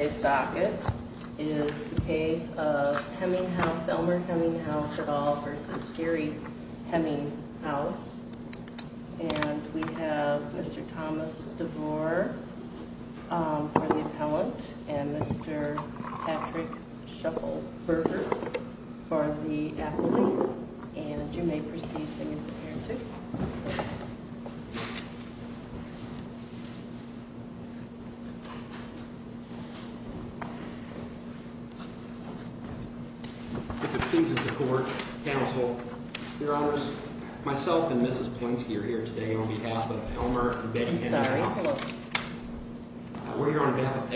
Today's docket is the case of Hemminghaus, Elmer Hemminghaus et al. v. Gary Hemminghaus and we have Mr. Thomas DeVore for the appellant and Mr. Patrick Shuffelberger for the appellant and you may proceed when you're prepared to. Mr. Thomas DeVore If it pleases the court, counsel, your honors, myself and Mrs. Polinsky are here today on behalf of Elmer and Betty Hemminghaus We're here on behalf of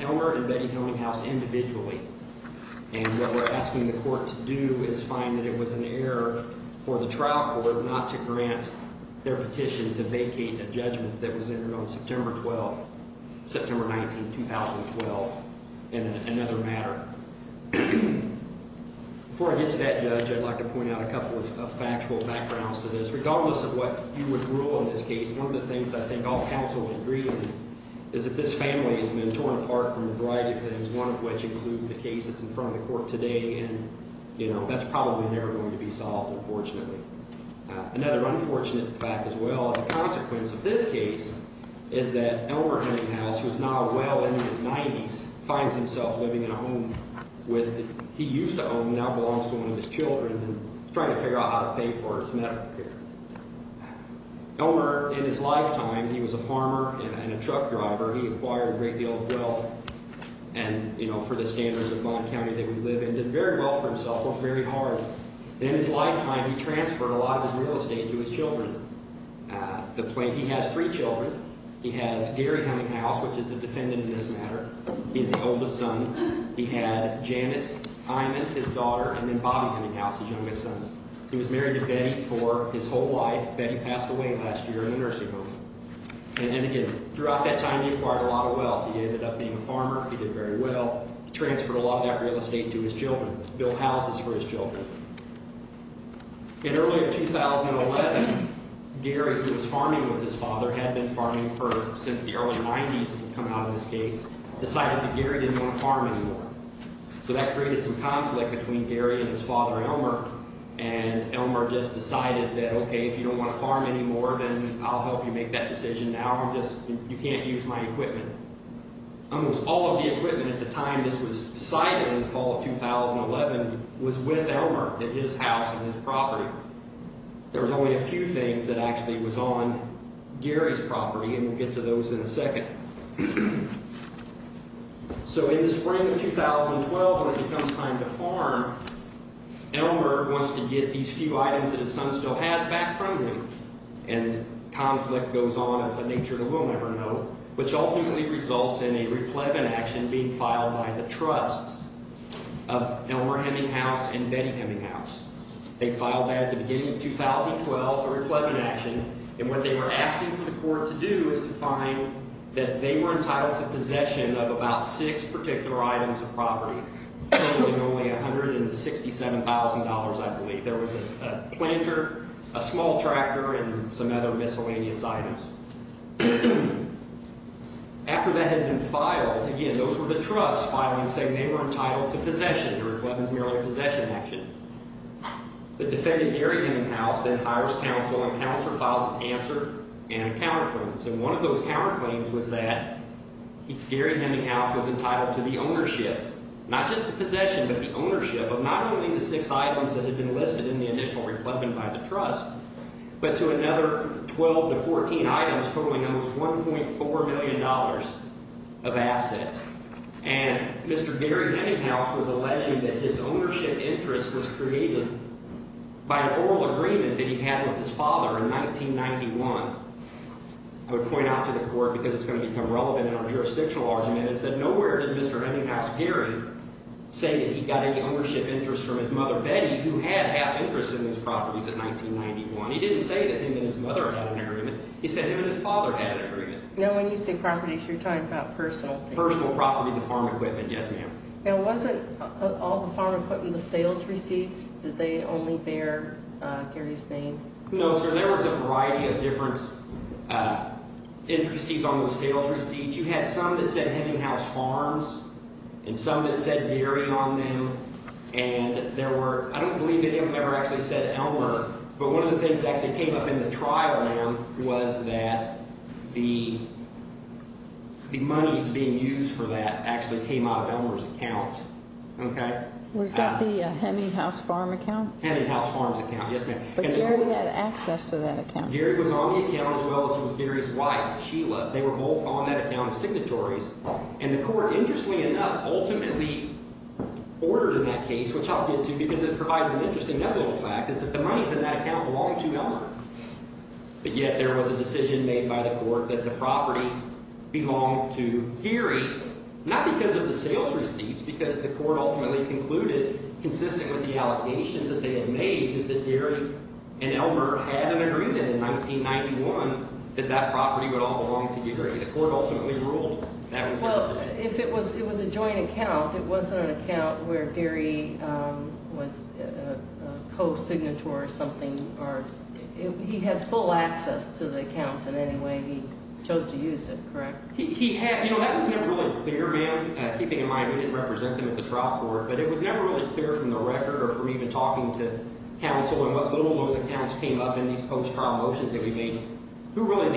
Elmer and Betty Hemminghaus individually and what we're asking the court to do is find that it was an error for the trial court not to grant their petition to vacate a judgment that was entered on September 12, September 19, 2012 in another matter. Before I get to that, Judge, I'd like to point out a couple of factual backgrounds to this. Regardless of what you would rule on this case, one of the things that I think all counsel would agree on is that this family has been torn apart from a variety of things, one of which includes the case that's in front of the court today and that's probably never going to be solved, unfortunately. Another unfortunate fact as well as a consequence of this case is that Elmer Hemminghaus, who is now well into his 90s, finds himself living in a home that he used to own and now belongs to one of his children and is trying to figure out how to pay for his medical care. Elmer, in his lifetime, he was a farmer and a truck driver. He acquired a great deal of wealth and, you know, for the standards of Bond County that we live in, did very well for himself, worked very hard. And in his lifetime, he transferred a lot of his real estate to his children. He has three children. He has Gary Hemminghaus, which is a defendant in this matter. He is the oldest son. He had Janet Eyman, his daughter, and then Bobby Hemminghaus, his youngest son. He was married to Betty for his whole life. Betty passed away last year in a nursing home. And again, throughout that time, he acquired a lot of wealth. He ended up being a farmer. He did very well. He transferred a lot of that real estate to his children, built houses for his children. In early 2011, Gary, who was farming with his father, had been farming since the early 90s, had come out of his case, decided that Gary didn't want to farm anymore. So that created some conflict between Gary and his father, Elmer, and Elmer just decided that, okay, if you don't want to farm anymore, then I'll help you make that decision now. You can't use my equipment. Almost all of the equipment at the time this was decided in the fall of 2011 was with Elmer at his house on his property. There was only a few things that actually was on Gary's property, and we'll get to those in a second. So in the spring of 2012, when it becomes time to farm, Elmer wants to get these few items that his son still has back from him, and conflict goes on of a nature that we'll never know, which ultimately results in a replegant action being filed by the trusts of Elmer Hemminghaus and Betty Hemminghaus. They filed that at the beginning of 2012 for a replegant action, and what they were asking for the court to do is to find that they were entitled to possession of about six particular items of property, totaling only $167,000, I believe. There was a planter, a small tractor, and some other miscellaneous items. After that had been filed, again, those were the trusts filing, saying they were entitled to possession, the replegant's merely a possession action. The defendant, Gary Hemminghaus, then hires counsel and counsel files an answer and a counterclaim. So one of those counterclaims was that Gary Hemminghaus was entitled to the ownership, not just the possession, but the ownership of not only the six items that had been listed in the initial replegant by the trust, but to another 12 to 14 items, totaling almost $1.4 million of assets. And Mr. Gary Hemminghaus was alleging that his ownership interest was created by an oral agreement that he had with his father in 1991. I would point out to the court, because it's going to become relevant in our jurisdictional argument, is that nowhere did Mr. Hemminghaus' Gary say that he got any ownership interest from his mother, Betty, who had half interest in those properties in 1991. He didn't say that him and his mother had an agreement. He said him and his father had an agreement. Now, when you say properties, you're talking about personal things. Personal property, the farm equipment, yes, ma'am. Now, wasn't all the farm equipment the sales receipts? Did they only bear Gary's name? No, sir, there was a variety of different entrustees on those sales receipts. You had some that said Hemminghaus Farms and some that said Gary on them. And there were – I don't believe that anyone ever actually said Elmer, but one of the things that actually came up in the trial, ma'am, was that the monies being used for that actually came out of Elmer's account. Okay? Was that the Hemminghaus Farms account? Hemminghaus Farms account, yes, ma'am. But Gary had access to that account. Gary was on the account as well as was Gary's wife, Sheila. They were both on that account of signatories. And the court, interestingly enough, ultimately ordered in that case, which I'll get to because it provides an interesting level of fact, is that the monies in that account belonged to Elmer. But yet there was a decision made by the court that the property belonged to Gary, not because of the sales receipts, because the court ultimately concluded, consistent with the allegations that they had made, is that Gary and Elmer had an agreement in 1991 that that property would all belong to Gary. The court ultimately ruled that was their decision. Well, if it was a joint account, it wasn't an account where Gary was a co-signator or something, or he had full access to the account in any way he chose to use it, correct? He had. You know, that was never really clear, ma'am. Keeping in mind we didn't represent them at the trial court, but it was never really clear from the record or from even talking to Hemmings or when those accounts came up in these post-trial motions that we made who really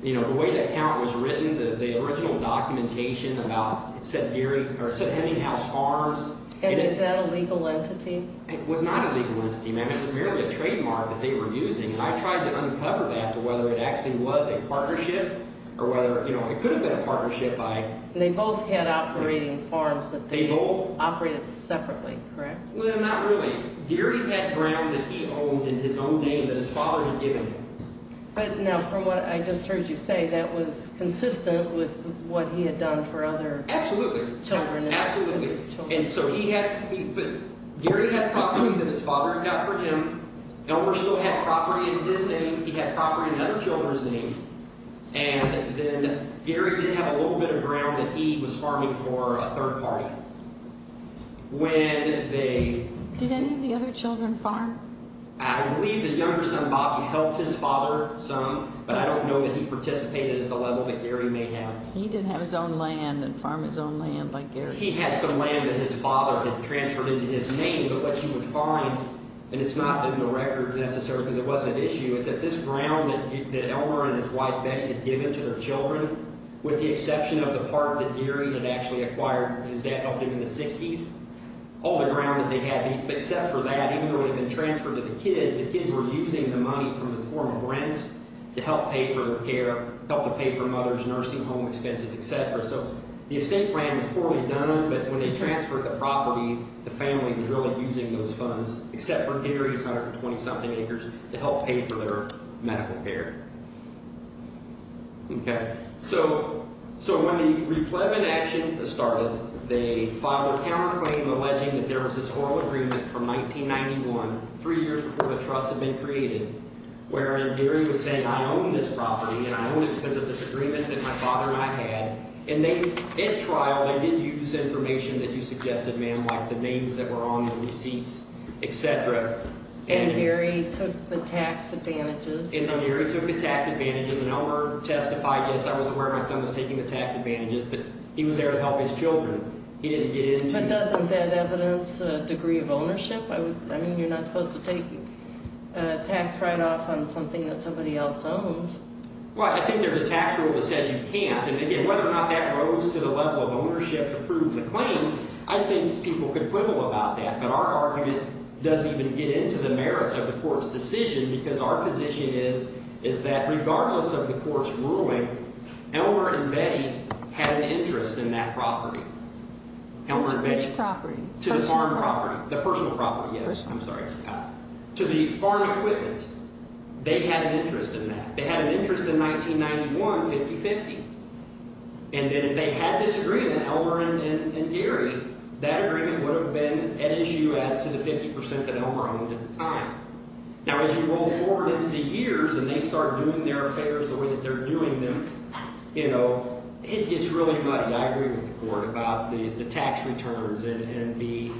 the, you know, the way that account was written, the original documentation about, it said Gary, or it said Hemming House Farms. And is that a legal entity? It was not a legal entity, ma'am. It was merely a trademark that they were using, and I tried to uncover that to whether it actually was a partnership or whether, you know, it could have been a partnership by— They both had operating farms that they— They both? —operated separately, correct? Well, not really. Gary had ground that he owned in his own name that his father had given him. But now, from what I just heard you say, that was consistent with what he had done for other— Absolutely. —children. Absolutely. And so he had—but Gary had property that his father had got for him. Elmer still had property in his name. He had property in other children's names. And then Gary did have a little bit of ground that he was farming for a third party. When they— Did any of the other children farm? I believe the younger son, Bobby, helped his father some, but I don't know that he participated at the level that Gary may have. He did have his own land and farm his own land like Gary. He had some land that his father had transferred into his name. But what you would find—and it's not in the record necessarily because it wasn't an issue— is that this ground that Elmer and his wife Betty had given to their children, with the exception of the part that Gary had actually acquired, and his dad helped him in the 60s, all the ground that they had, except for that, even though it had been transferred to the kids, the kids were using the money from this form of rents to help pay for their care, help to pay for mother's nursing home expenses, etc. So the estate plan was poorly done, but when they transferred the property, the family was really using those funds, except for Gary's 120-something acres, to help pay for their medical care. Okay. So when the replevant action started, they filed a counterclaim alleging that there was this oral agreement from 1991, three years before the trust had been created, wherein Gary was saying, I own this property, and I own it because of this agreement that my father and I had. And they—at trial, they did use information that you suggested, ma'am, like the names that were on the receipts, etc. And Gary took the tax advantages. And Elmer testified, yes, I was aware my son was taking the tax advantages, but he was there to help his children. He didn't get into— But doesn't that evidence a degree of ownership? I mean, you're not supposed to take a tax write-off on something that somebody else owns. Well, I think there's a tax rule that says you can't. And again, whether or not that rose to the level of ownership to prove the claim, I think people could quibble about that. But our argument doesn't even get into the merits of the court's decision because our position is that regardless of the court's ruling, Elmer and Betty had an interest in that property. Elmer and Betty. To which property? To the farm property. The personal property. The personal property, yes. I'm sorry. To the farm equipment. They had an interest in that. They had an interest in 1991, 50-50. And then if they had this agreement, Elmer and Gary, that agreement would have been at issue as to the 50 percent that Elmer owned at the time. Now, as you roll forward into the years and they start doing their affairs the way that they're doing them, you know, it gets really muddy. I agree with the court about the tax returns and the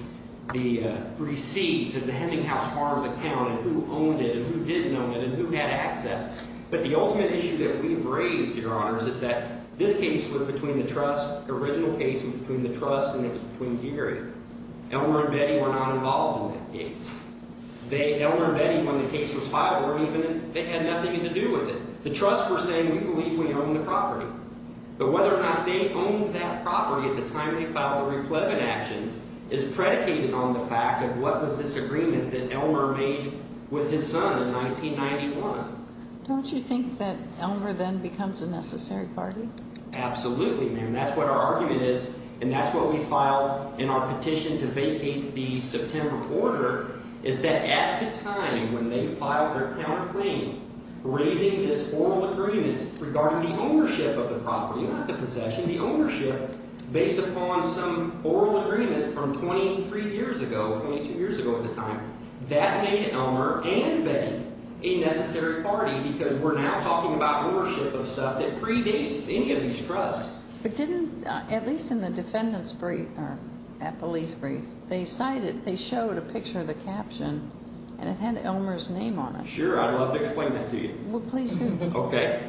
receipts and the Heminghouse Farms account and who owned it and who didn't own it and who had access. But the ultimate issue that we've raised, Your Honors, is that this case was between the trust. The original case was between the trust and it was between Gary. Elmer and Betty were not involved in that case. Elmer and Betty, when the case was filed, they had nothing to do with it. The trust were saying we believe we own the property. But whether or not they owned that property at the time they filed the replevant action is predicated on the fact of what was this agreement that Elmer made with his son in 1991. Don't you think that Elmer then becomes a necessary party? Absolutely, ma'am. And that's what our argument is and that's what we filed in our petition to vacate the September quarter is that at the time when they filed their counterclaim, raising this oral agreement regarding the ownership of the property, not the possession, the ownership based upon some oral agreement from 23 years ago, 22 years ago at the time, that made Elmer and Betty a necessary party because we're now talking about ownership of stuff that predates any of these trusts. But didn't, at least in the defendant's brief, that police brief, they cited, they showed a picture of the caption and it had Elmer's name on it. Sure, I'd love to explain that to you. Well, please do. Okay.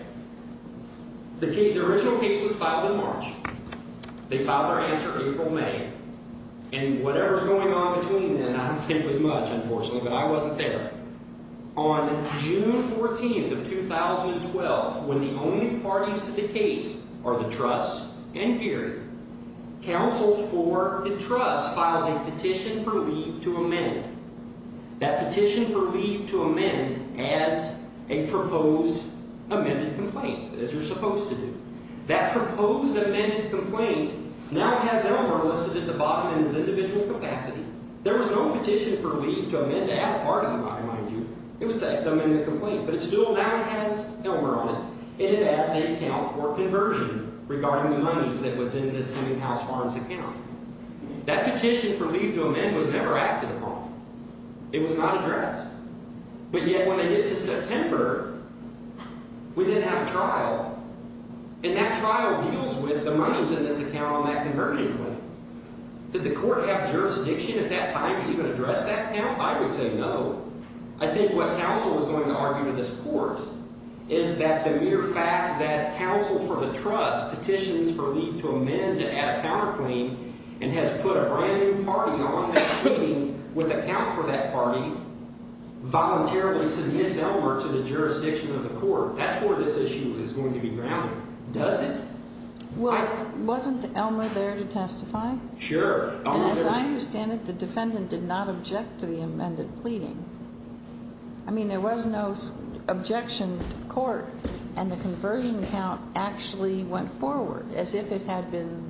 The original case was filed in March. They filed their answer April, May. And whatever's going on between then, I don't think was much, unfortunately, but I wasn't there. On June 14th of 2012, when the only parties to the case are the trusts and Gary, counsels for the trust filed a petition for leave to amend. That petition for leave to amend adds a proposed amended complaint, as you're supposed to do. That proposed amended complaint now has Elmer listed at the bottom in his individual capacity. There was no petition for leave to amend to add part of the line, mind you. It was the amended complaint, but it still now has Elmer on it. And it adds a count for conversion regarding the monies that was in this Heming House Farms account. That petition for leave to amend was never acted upon. It was not addressed. But yet when they get to September, we then have a trial. And that trial deals with the monies in this account on that conversion claim. Did the court have jurisdiction at that time to even address that account? I would say no. I think what counsel is going to argue to this court is that the mere fact that counsel for the trust petitions for leave to amend to add a counterclaim and has put a brand-new party on that claim with a count for that party voluntarily submits Elmer to the jurisdiction of the court. That's where this issue is going to be grounded, does it? Well, wasn't Elmer there to testify? Sure. And as I understand it, the defendant did not object to the amended pleading. I mean, there was no objection to the court, and the conversion account actually went forward as if it had been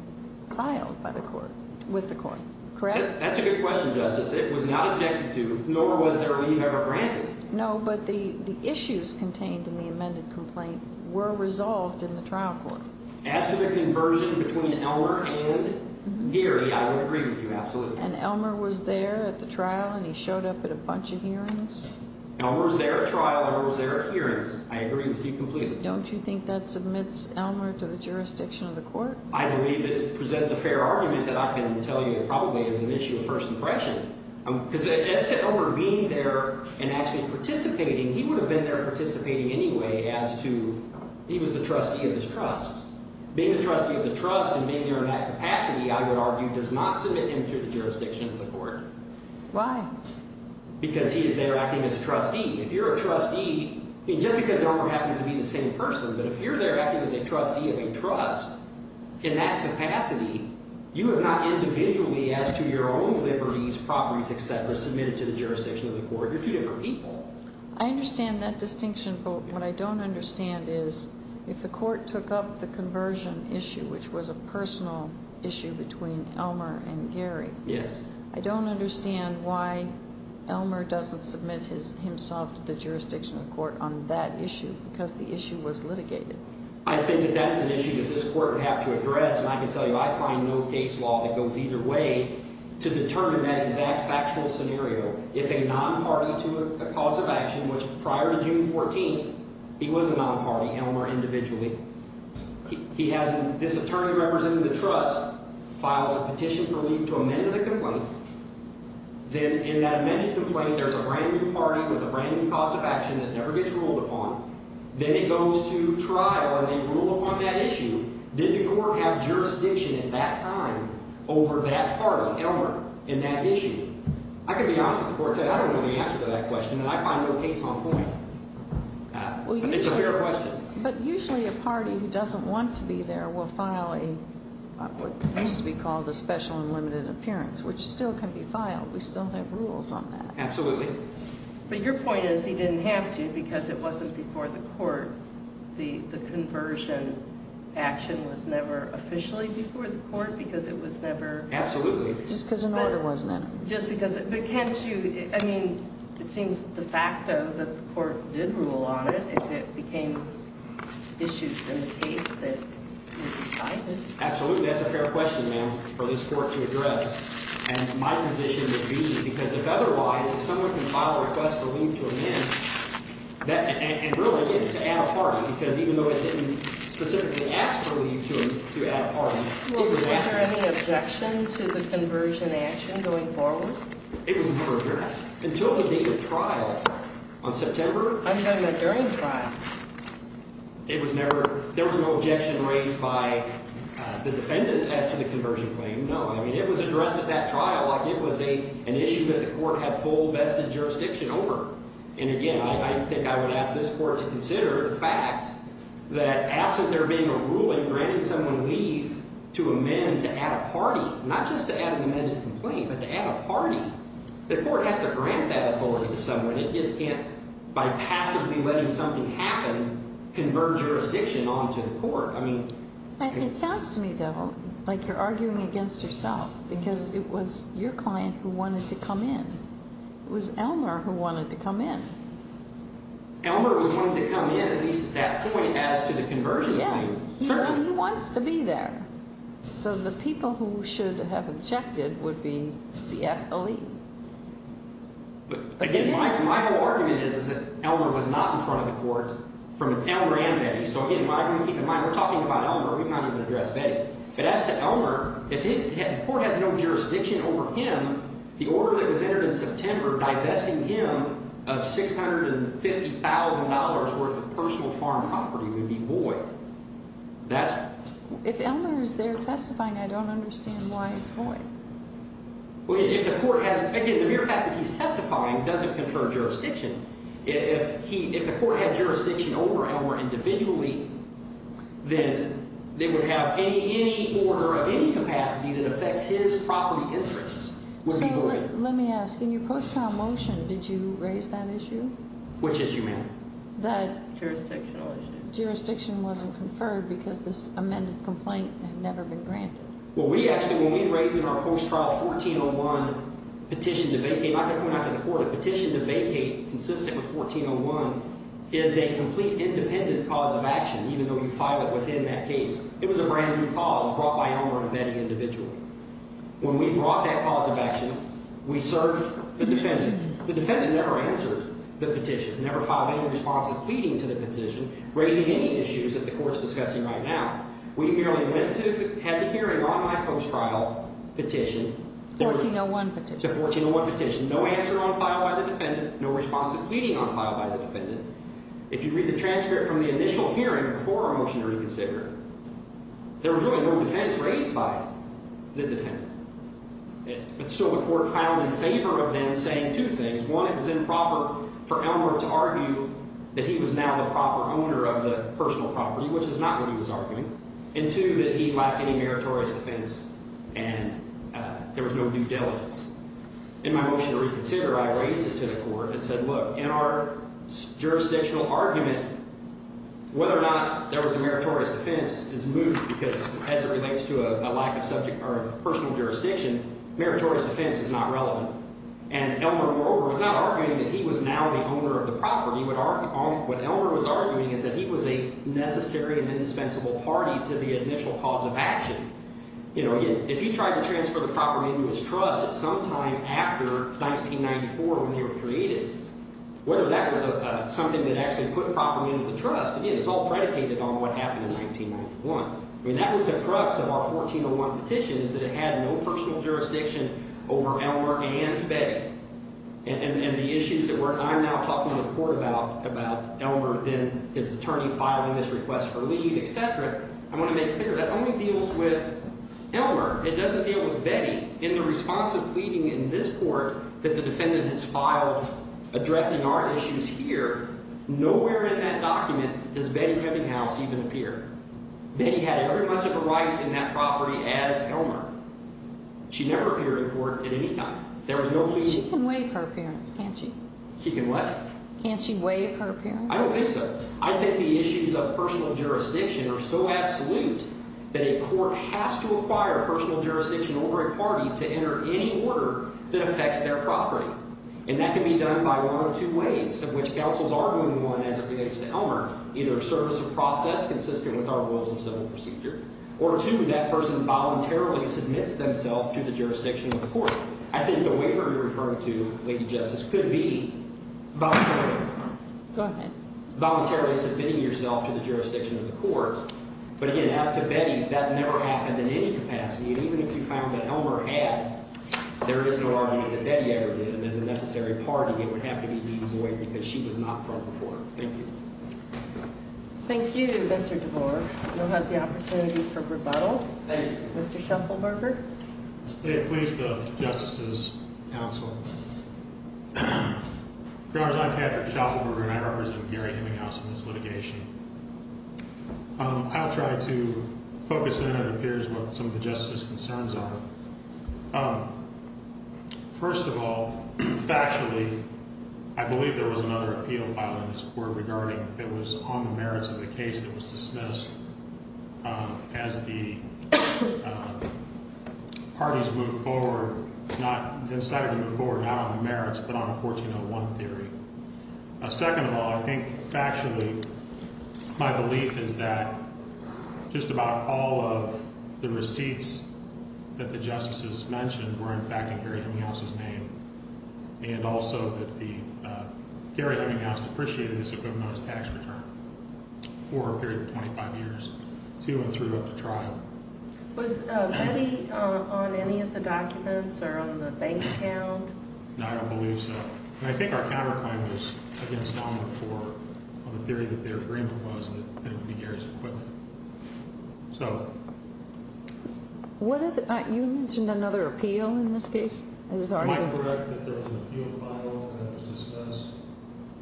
filed by the court, with the court. Correct? That's a good question, Justice. It was not objected to, nor was there a leave ever granted. No, but the issues contained in the amended complaint were resolved in the trial court. As to the conversion between Elmer and Geary, I would agree with you, absolutely. And Elmer was there at the trial, and he showed up at a bunch of hearings? Elmer was there at trial. Elmer was there at hearings. I agree with you completely. Don't you think that submits Elmer to the jurisdiction of the court? I believe it presents a fair argument that I can tell you probably is an issue of first impression, because as to Elmer being there and actually participating, he would have been there as to he was the trustee of his trust. Being the trustee of the trust and being there in that capacity, I would argue, does not submit him to the jurisdiction of the court. Why? Because he is there acting as a trustee. If you're a trustee, just because Elmer happens to be the same person, but if you're there acting as a trustee of a trust in that capacity, you have not individually, as to your own liberties, properties, et cetera, submitted to the jurisdiction of the court. You're two different people. I understand that distinction, but what I don't understand is if the court took up the conversion issue, which was a personal issue between Elmer and Gary. Yes. I don't understand why Elmer doesn't submit himself to the jurisdiction of the court on that issue, because the issue was litigated. I think that that's an issue that this court would have to address, and I can tell you I find no case law that goes either way to determine that exact factual scenario. If a non-party to a cause of action, which prior to June 14th, he was a non-party, Elmer individually. He has this attorney representing the trust, files a petition for leave to amend the complaint. Then in that amended complaint, there's a brand-new party with a brand-new cause of action that never gets ruled upon. Then it goes to trial, and they rule upon that issue. Did the court have jurisdiction at that time over that party, Elmer, in that issue? I can be honest with the court. I don't know the answer to that question, and I find no case on point. It's a fair question. But usually a party who doesn't want to be there will file what used to be called a special and limited appearance, which still can be filed. We still have rules on that. Absolutely. But your point is he didn't have to because it wasn't before the court. The conversion action was never officially before the court because it was never – Absolutely. Just because of murder, wasn't it? Just because – but can't you – I mean, it seems de facto that the court did rule on it if it became an issue in the case that you decided. Absolutely. That's a fair question, ma'am, for this court to address. And my position would be because if otherwise, if someone can file a request for leave to amend, and really get it to add a party because even though it didn't specifically ask for leave to add a party, was there any objection to the conversion action going forward? It was never addressed. Until the date of trial on September – I'm talking about during trial. It was never – there was no objection raised by the defendant as to the conversion claim, no. I mean, it was addressed at that trial. It was an issue that the court had full vested jurisdiction over. And again, I think I would ask this court to consider the fact that absent there being a ruling granting someone leave to amend to add a party, not just to add an amended complaint but to add a party, the court has to grant that authority to someone. It just can't, by passively letting something happen, convert jurisdiction onto the court. I mean – It sounds to me, though, like you're arguing against yourself because it was your client who wanted to come in. It was Elmer who wanted to come in. Elmer was going to come in at least at that point as to the conversion claim. He wants to be there. So the people who should have objected would be the FLEs. But again, my whole argument is that Elmer was not in front of the court from Elmer and Betty. So again, I'm going to keep in mind we're talking about Elmer. We've not even addressed Betty. But as to Elmer, if his – if the court has no jurisdiction over him, the order that was entered in September divesting him of $650,000 worth of personal farm property would be void. That's – If Elmer is there testifying, I don't understand why it's void. Well, if the court has – again, the mere fact that he's testifying doesn't confer jurisdiction. If he – if the court had jurisdiction over Elmer individually, then they would have any order of any capacity that affects his property interests would be void. Let me ask, in your post-trial motion, did you raise that issue? Which issue, ma'am? The – Jurisdictional issue. Jurisdiction wasn't conferred because this amended complaint had never been granted. Well, we actually – when we raised in our post-trial 1401 petition to vacate – I can point out to the court a petition to vacate consistent with 1401 is a complete independent cause of action, even though you file it within that case. It was a brand-new cause brought by Elmer and Betty individually. When we brought that cause of action, we served the defendant. The defendant never answered the petition, never filed any responsive pleading to the petition, raising any issues that the court is discussing right now. We merely went to – had the hearing on my post-trial petition. The 1401 petition. The 1401 petition. No answer on file by the defendant, no responsive pleading on file by the defendant. If you read the transcript from the initial hearing before our motion to reconsider, there was really no defense raised by the defendant. And so the court found in favor of them saying two things. One, it was improper for Elmer to argue that he was now the proper owner of the personal property, which is not what he was arguing, and two, that he lacked any meritorious defense and there was no due diligence. In my motion to reconsider, I raised it to the court and said, look, in our jurisdictional argument, whether or not there was a meritorious defense is moot because as it relates to a lack of subject or of personal jurisdiction, meritorious defense is not relevant. And Elmer, moreover, was not arguing that he was now the owner of the property. What Elmer was arguing is that he was a necessary and indispensable party to the initial cause of action. If he tried to transfer the property into his trust at some time after 1994 when they were created, whether that was something that actually put property into the trust, again, it's all predicated on what happened in 1991. I mean, that was the crux of our 1401 petition is that it had no personal jurisdiction over Elmer and Betty. And the issues that I'm now talking to the court about, about Elmer then his attorney filing this request for leave, et cetera, I want to make clear that only deals with Elmer. It doesn't deal with Betty. In the response of pleading in this court that the defendant has filed addressing our issues here, nowhere in that document does Betty Heminghouse even appear. Betty had every much of a right in that property as Elmer. She never appeared in court at any time. There was no plea. She can waive her appearance, can't she? She can what? Can't she waive her appearance? I don't think so. I think the issues of personal jurisdiction are so absolute that a court has to acquire personal jurisdiction over a party to enter any order that affects their property. And that can be done by one of two ways, of which counsels are doing one as it relates to Elmer, either a service of process consistent with our rules and civil procedure, or two, that person voluntarily submits themselves to the jurisdiction of the court. I think the waiver you're referring to, Lady Justice, could be voluntary. Go ahead. Voluntarily submitting yourself to the jurisdiction of the court. But, again, as to Betty, that never happened in any capacity. And even if you found that Elmer had, there is no argument that Betty ever did. And as a necessary party, it would have to be D.B. Boyd because she was not front and forth. Thank you. Thank you, Mr. DeBoer. You'll have the opportunity for rebuttal. Mr. Sheffelberger. May it please the justices' counsel. Your Honors, I'm Patrick Sheffelberger, and I represent Gary Hemminghaus in this litigation. I'll try to focus in on what appears to be some of the justices' concerns are. First of all, factually, I believe there was another appeal filed in this court regarding if it was on the merits of the case that was dismissed as the parties moved forward, not decided to move forward on the merits, but on the 1401 theory. Second of all, I think factually my belief is that just about all of the receipts that the justices mentioned were, in fact, in Gary Hemminghaus' name, and also that Gary Hemminghaus depreciated this equipment on his tax return for a period of 25 years to and throughout the trial. Was Betty on any of the documents or on the bank account? No, I don't believe so. And I think our counterclaim was against Long before on the theory that their agreement was that it would be Gary's equipment. You mentioned another appeal in this case? Am I correct that there was an appeal filed and it was dismissed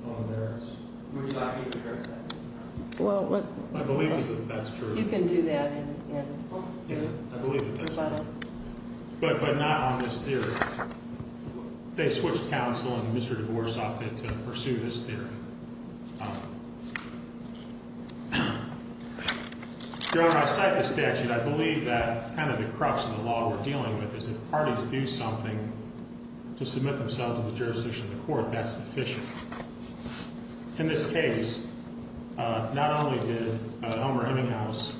on merits? Would you like me to refer to that? My belief is that that's true. You can do that. I believe it is. But not on this theory. They switched counsel and Mr. DeVorce off it to pursue this theory. Your Honor, I cite the statute. I believe that kind of the crux of the law we're dealing with is if parties do something to submit themselves to the jurisdiction of the court, that's sufficient. In this case, not only did Elmer Hemminghaus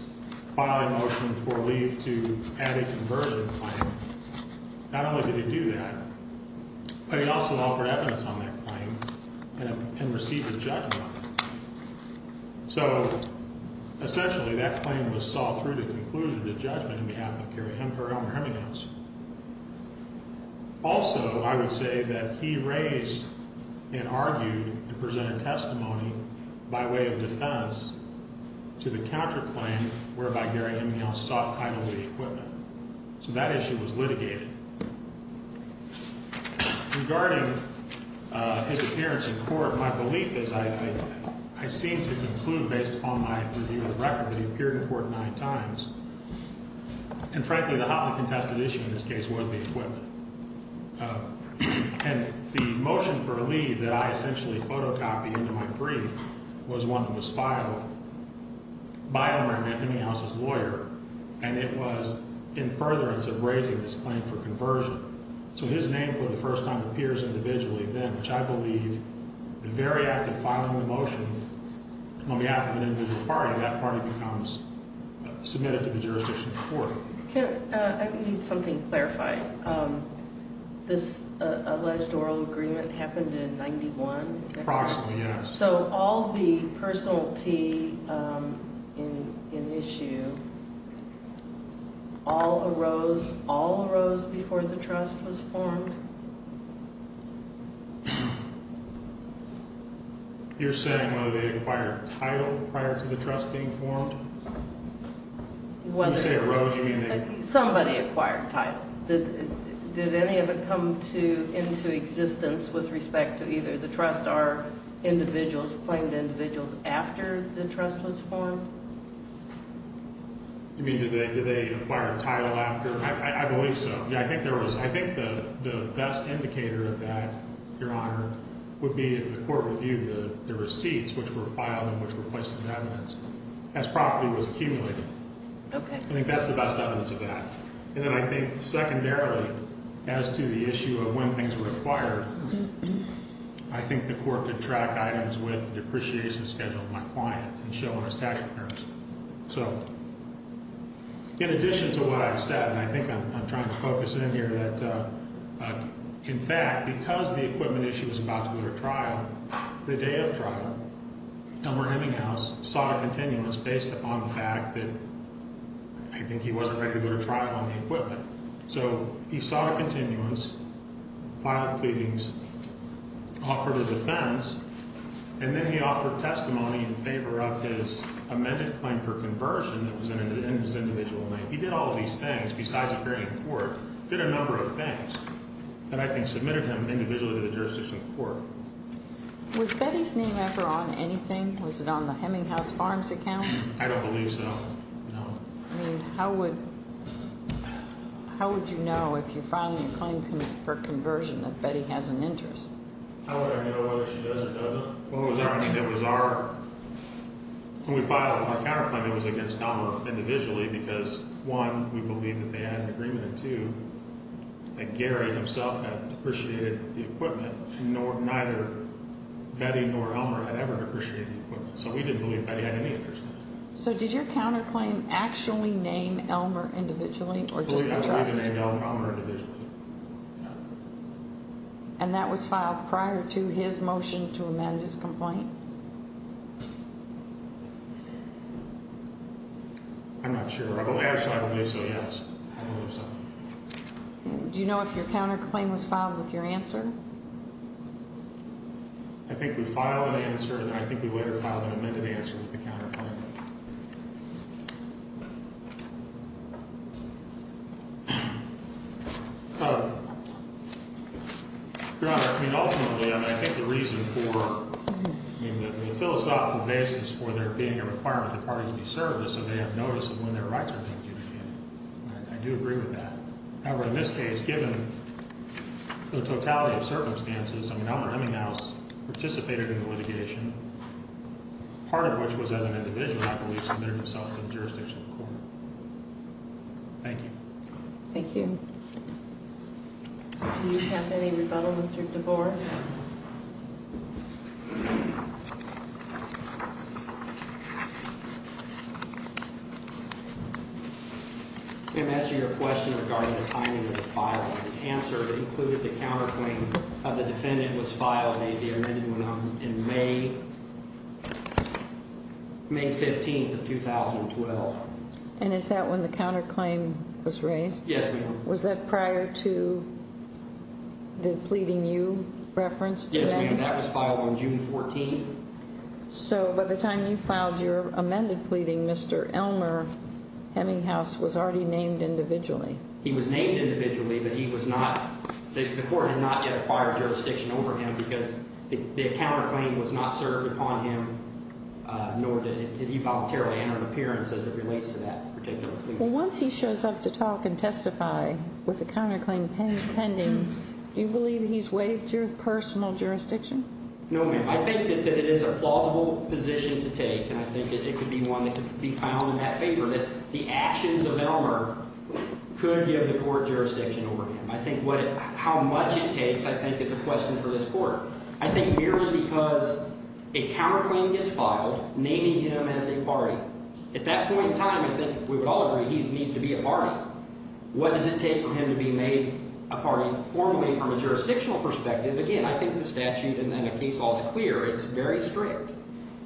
file a motion for leave to add a conversion claim. Not only did he do that, but he also offered evidence on that claim and received a judgment on it. So, essentially, that claim was solved through the conclusion of the judgment on behalf of Elmer Hemminghaus. Also, I would say that he raised and argued and presented testimony by way of defense to the counterclaim whereby Gary Hemminghaus sought title of the equipment. So, that issue was litigated. Regarding his appearance in court, my belief is I seem to conclude based upon my review of the record that he appeared in court nine times. And, frankly, the hotly contested issue in this case was the equipment. And the motion for leave that I essentially photocopied into my brief was one that was filed by Elmer Hemminghaus's lawyer, and it was in furtherance of raising this claim for conversion. So, his name for the first time appears individually then, which I believe the very act of filing the motion on behalf of an individual party, that party becomes submitted to the jurisdiction of the court. I need something clarified. This alleged oral agreement happened in 91? Approximately, yes. So, all the personality in issue, all arose before the trust was formed? You're saying whether they acquired title prior to the trust being formed? Somebody acquired title. Did any of it come into existence with respect to either the trust or individuals, claimed individuals, after the trust was formed? You mean, did they acquire title after? I believe so. Yeah, I think there was. I think the best indicator of that, Your Honor, would be if the court reviewed the receipts which were filed and which were placed in evidence as property was accumulated. Okay. I think that's the best evidence of that. And then I think secondarily, as to the issue of when things were acquired, I think the court could track items with the depreciation schedule of my client and show on his tax returns. So, in addition to what I've said, and I think I'm trying to focus in here, that in fact, because the equipment issue was about to go to trial, the day of trial, Elmer Hemminghaus sought a continuance based upon the fact that I think he wasn't ready to go to trial on the equipment. So, he sought a continuance, filed the pleadings, offered a defense, and then he offered testimony in favor of his amended claim for conversion that was in his individual name. He did all of these things besides appearing in court, did a number of things that I think submitted him individually to the jurisdiction of the court. Was Betty's name ever on anything? Was it on the Hemminghaus Farms account? I don't believe so, no. I mean, how would you know if you're filing a claim for conversion that Betty has an interest? How would I know whether she does or doesn't? When we filed our counterclaim, it was against Elmer individually because, one, we believed that they had an agreement, and two, that Gary himself had depreciated the equipment, and neither Betty nor Elmer had ever depreciated the equipment. So, we didn't believe Betty had any interest in it. So, did your counterclaim actually name Elmer individually or just the trust? Oh, yeah, we named Elmer individually. And that was filed prior to his motion to amend his complaint? I'm not sure. Actually, I believe so, yes. I believe so. Do you know if your counterclaim was filed with your answer? I think we filed an answer, and I think we later filed an amended answer with the counterclaim. Your Honor, I mean, ultimately, I think the reason for, I mean, the philosophical basis for there being a requirement that parties be served is so they have notice of when their rights are being adjudicated. I do agree with that. However, in this case, given the totality of circumstances, I mean, Elmer Eminghaus participated in the litigation, part of which was as an individual, I believe, submitted himself to the jurisdiction of the court. Thank you. Thank you. Do you have any rebuttal, Mr. DeBoer? Ma'am, to answer your question regarding the timing of the filing, the answer included the counterclaim of the defendant was filed, may be amended, in May 15th of 2012. And is that when the counterclaim was raised? Yes, ma'am. Was that prior to the pleading you referenced? Yes, ma'am. That was filed on June 14th. So by the time you filed your amended pleading, Mr. Elmer Eminghaus was already named individually. He was named individually, but he was not, the court had not yet acquired jurisdiction over him because the counterclaim was not served upon him, nor did he voluntarily enter an appearance as it relates to that particular pleading. Well, once he shows up to talk and testify with the counterclaim pending, do you believe he's waived your personal jurisdiction? No, ma'am. I think that it is a plausible position to take, and I think it could be one that could be found in that favor, that the actions of Elmer could give the court jurisdiction over him. I think how much it takes, I think, is a question for this court. I think merely because a counterclaim gets filed naming him as a party. At that point in time, I think we would all agree he needs to be a party. What does it take for him to be made a party formally from a jurisdictional perspective? Again, I think the statute and then a case law is clear. It's very strict.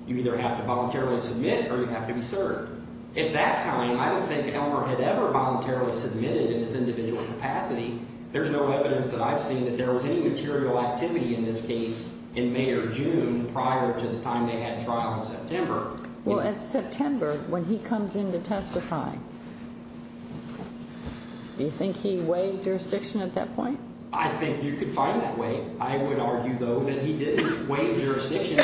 You either have to voluntarily submit or you have to be served. At that time, I don't think Elmer had ever voluntarily submitted in his individual capacity. There's no evidence that I've seen that there was any material activity in this case in May or June prior to the time they had a trial in September. Well, at September, when he comes in to testify, do you think he waived jurisdiction at that point? I think you could find that way. I would argue, though, that he did waive jurisdiction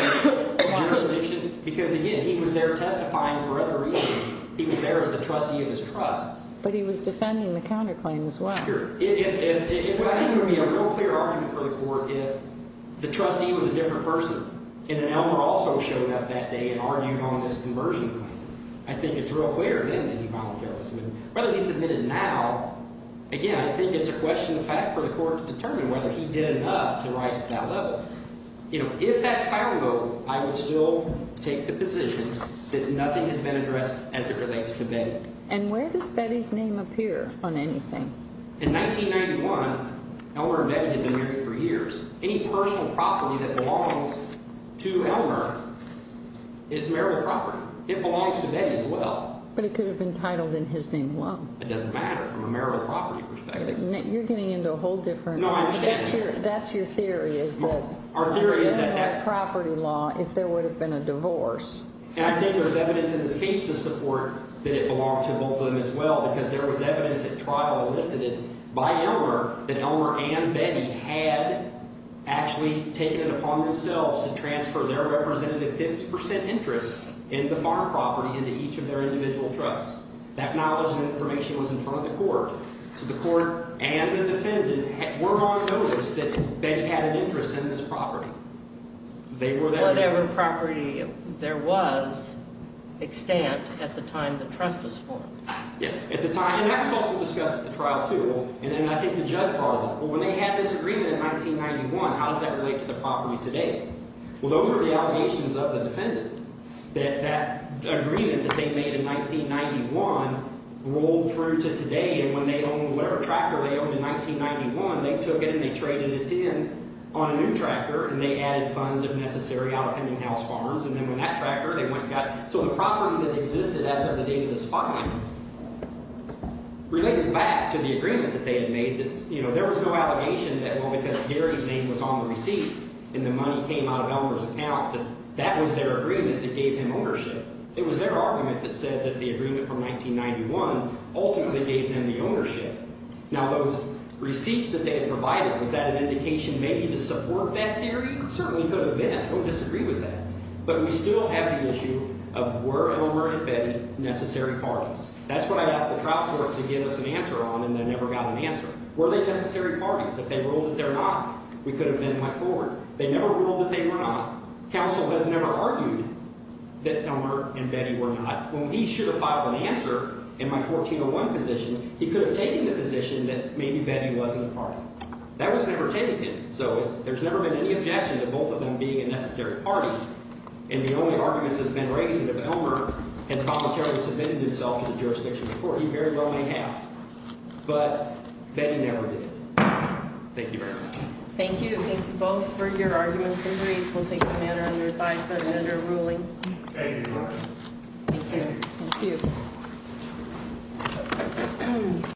because, again, he was there testifying for other reasons. He was there as the trustee of his trust. But he was defending the counterclaim as well. I think it would be a real clear argument for the court if the trustee was a different person and then Elmer also showed up that day and argued on this conversion claim. I think it's real clear then that he voluntarily submitted. Whether he submitted now, again, I think it's a question of fact for the court to determine whether he did enough to rise to that level. If that's final vote, I would still take the position that nothing has been addressed as it relates to Betty. And where does Betty's name appear on anything? In 1991, Elmer and Betty had been married for years. Any personal property that belongs to Elmer is marital property. It belongs to Betty as well. But it could have been titled in his name alone. It doesn't matter from a marital property perspective. You're getting into a whole different— No, I understand the theory. That's your theory is that— Our theory is that— —there wouldn't have been a property law if there would have been a divorce. And I think there's evidence in this case to support that it belonged to both of them as well because there was evidence at trial elicited by Elmer that Elmer and Betty had actually taken it upon themselves to transfer their representative 50 percent interest in the farm property into each of their individual trusts. That knowledge and information was in front of the court. So the court and the defendant were on notice that Betty had an interest in this property. Whatever property there was extant at the time the trust was formed. Yes. At the time—and that was also discussed at the trial too. And then I think the judge brought it up. Well, when they had this agreement in 1991, how does that relate to the property today? Well, those are the allegations of the defendant that that agreement that they made in 1991 rolled through to today. And when they owned whatever tractor they owned in 1991, they took it and they traded it in on a new tractor and they added funds if necessary out of Hemminghouse Farms. And then when that tractor—they went and got—so the property that existed as of the date of this filing related back to the agreement that they had made. There was no allegation that, well, because Gary's name was on the receipt and the money came out of Elmer's account, that that was their agreement that gave him ownership. It was their argument that said that the agreement from 1991 ultimately gave them the ownership. Now, those receipts that they had provided, was that an indication maybe to support that theory? It certainly could have been. I don't disagree with that. But we still have the issue of were Elmer and Betty necessary parties. That's what I asked the trial court to give us an answer on and they never got an answer. Were they necessary parties? If they ruled that they're not, we could have then went forward. They never ruled that they were not. Counsel has never argued that Elmer and Betty were not. When he should have filed an answer in my 1401 position, he could have taken the position that maybe Betty wasn't a party. That was never taken. So there's never been any objection to both of them being a necessary party. And the only argument that's been raised is if Elmer has voluntarily submitted himself to the jurisdiction of the court. He very well may have. But Betty never did. Thank you very much. Thank you. Thank you both for your arguments and reasons. We'll take the matter under advice, but an underruling. Thank you very much. Thank you. Thank you.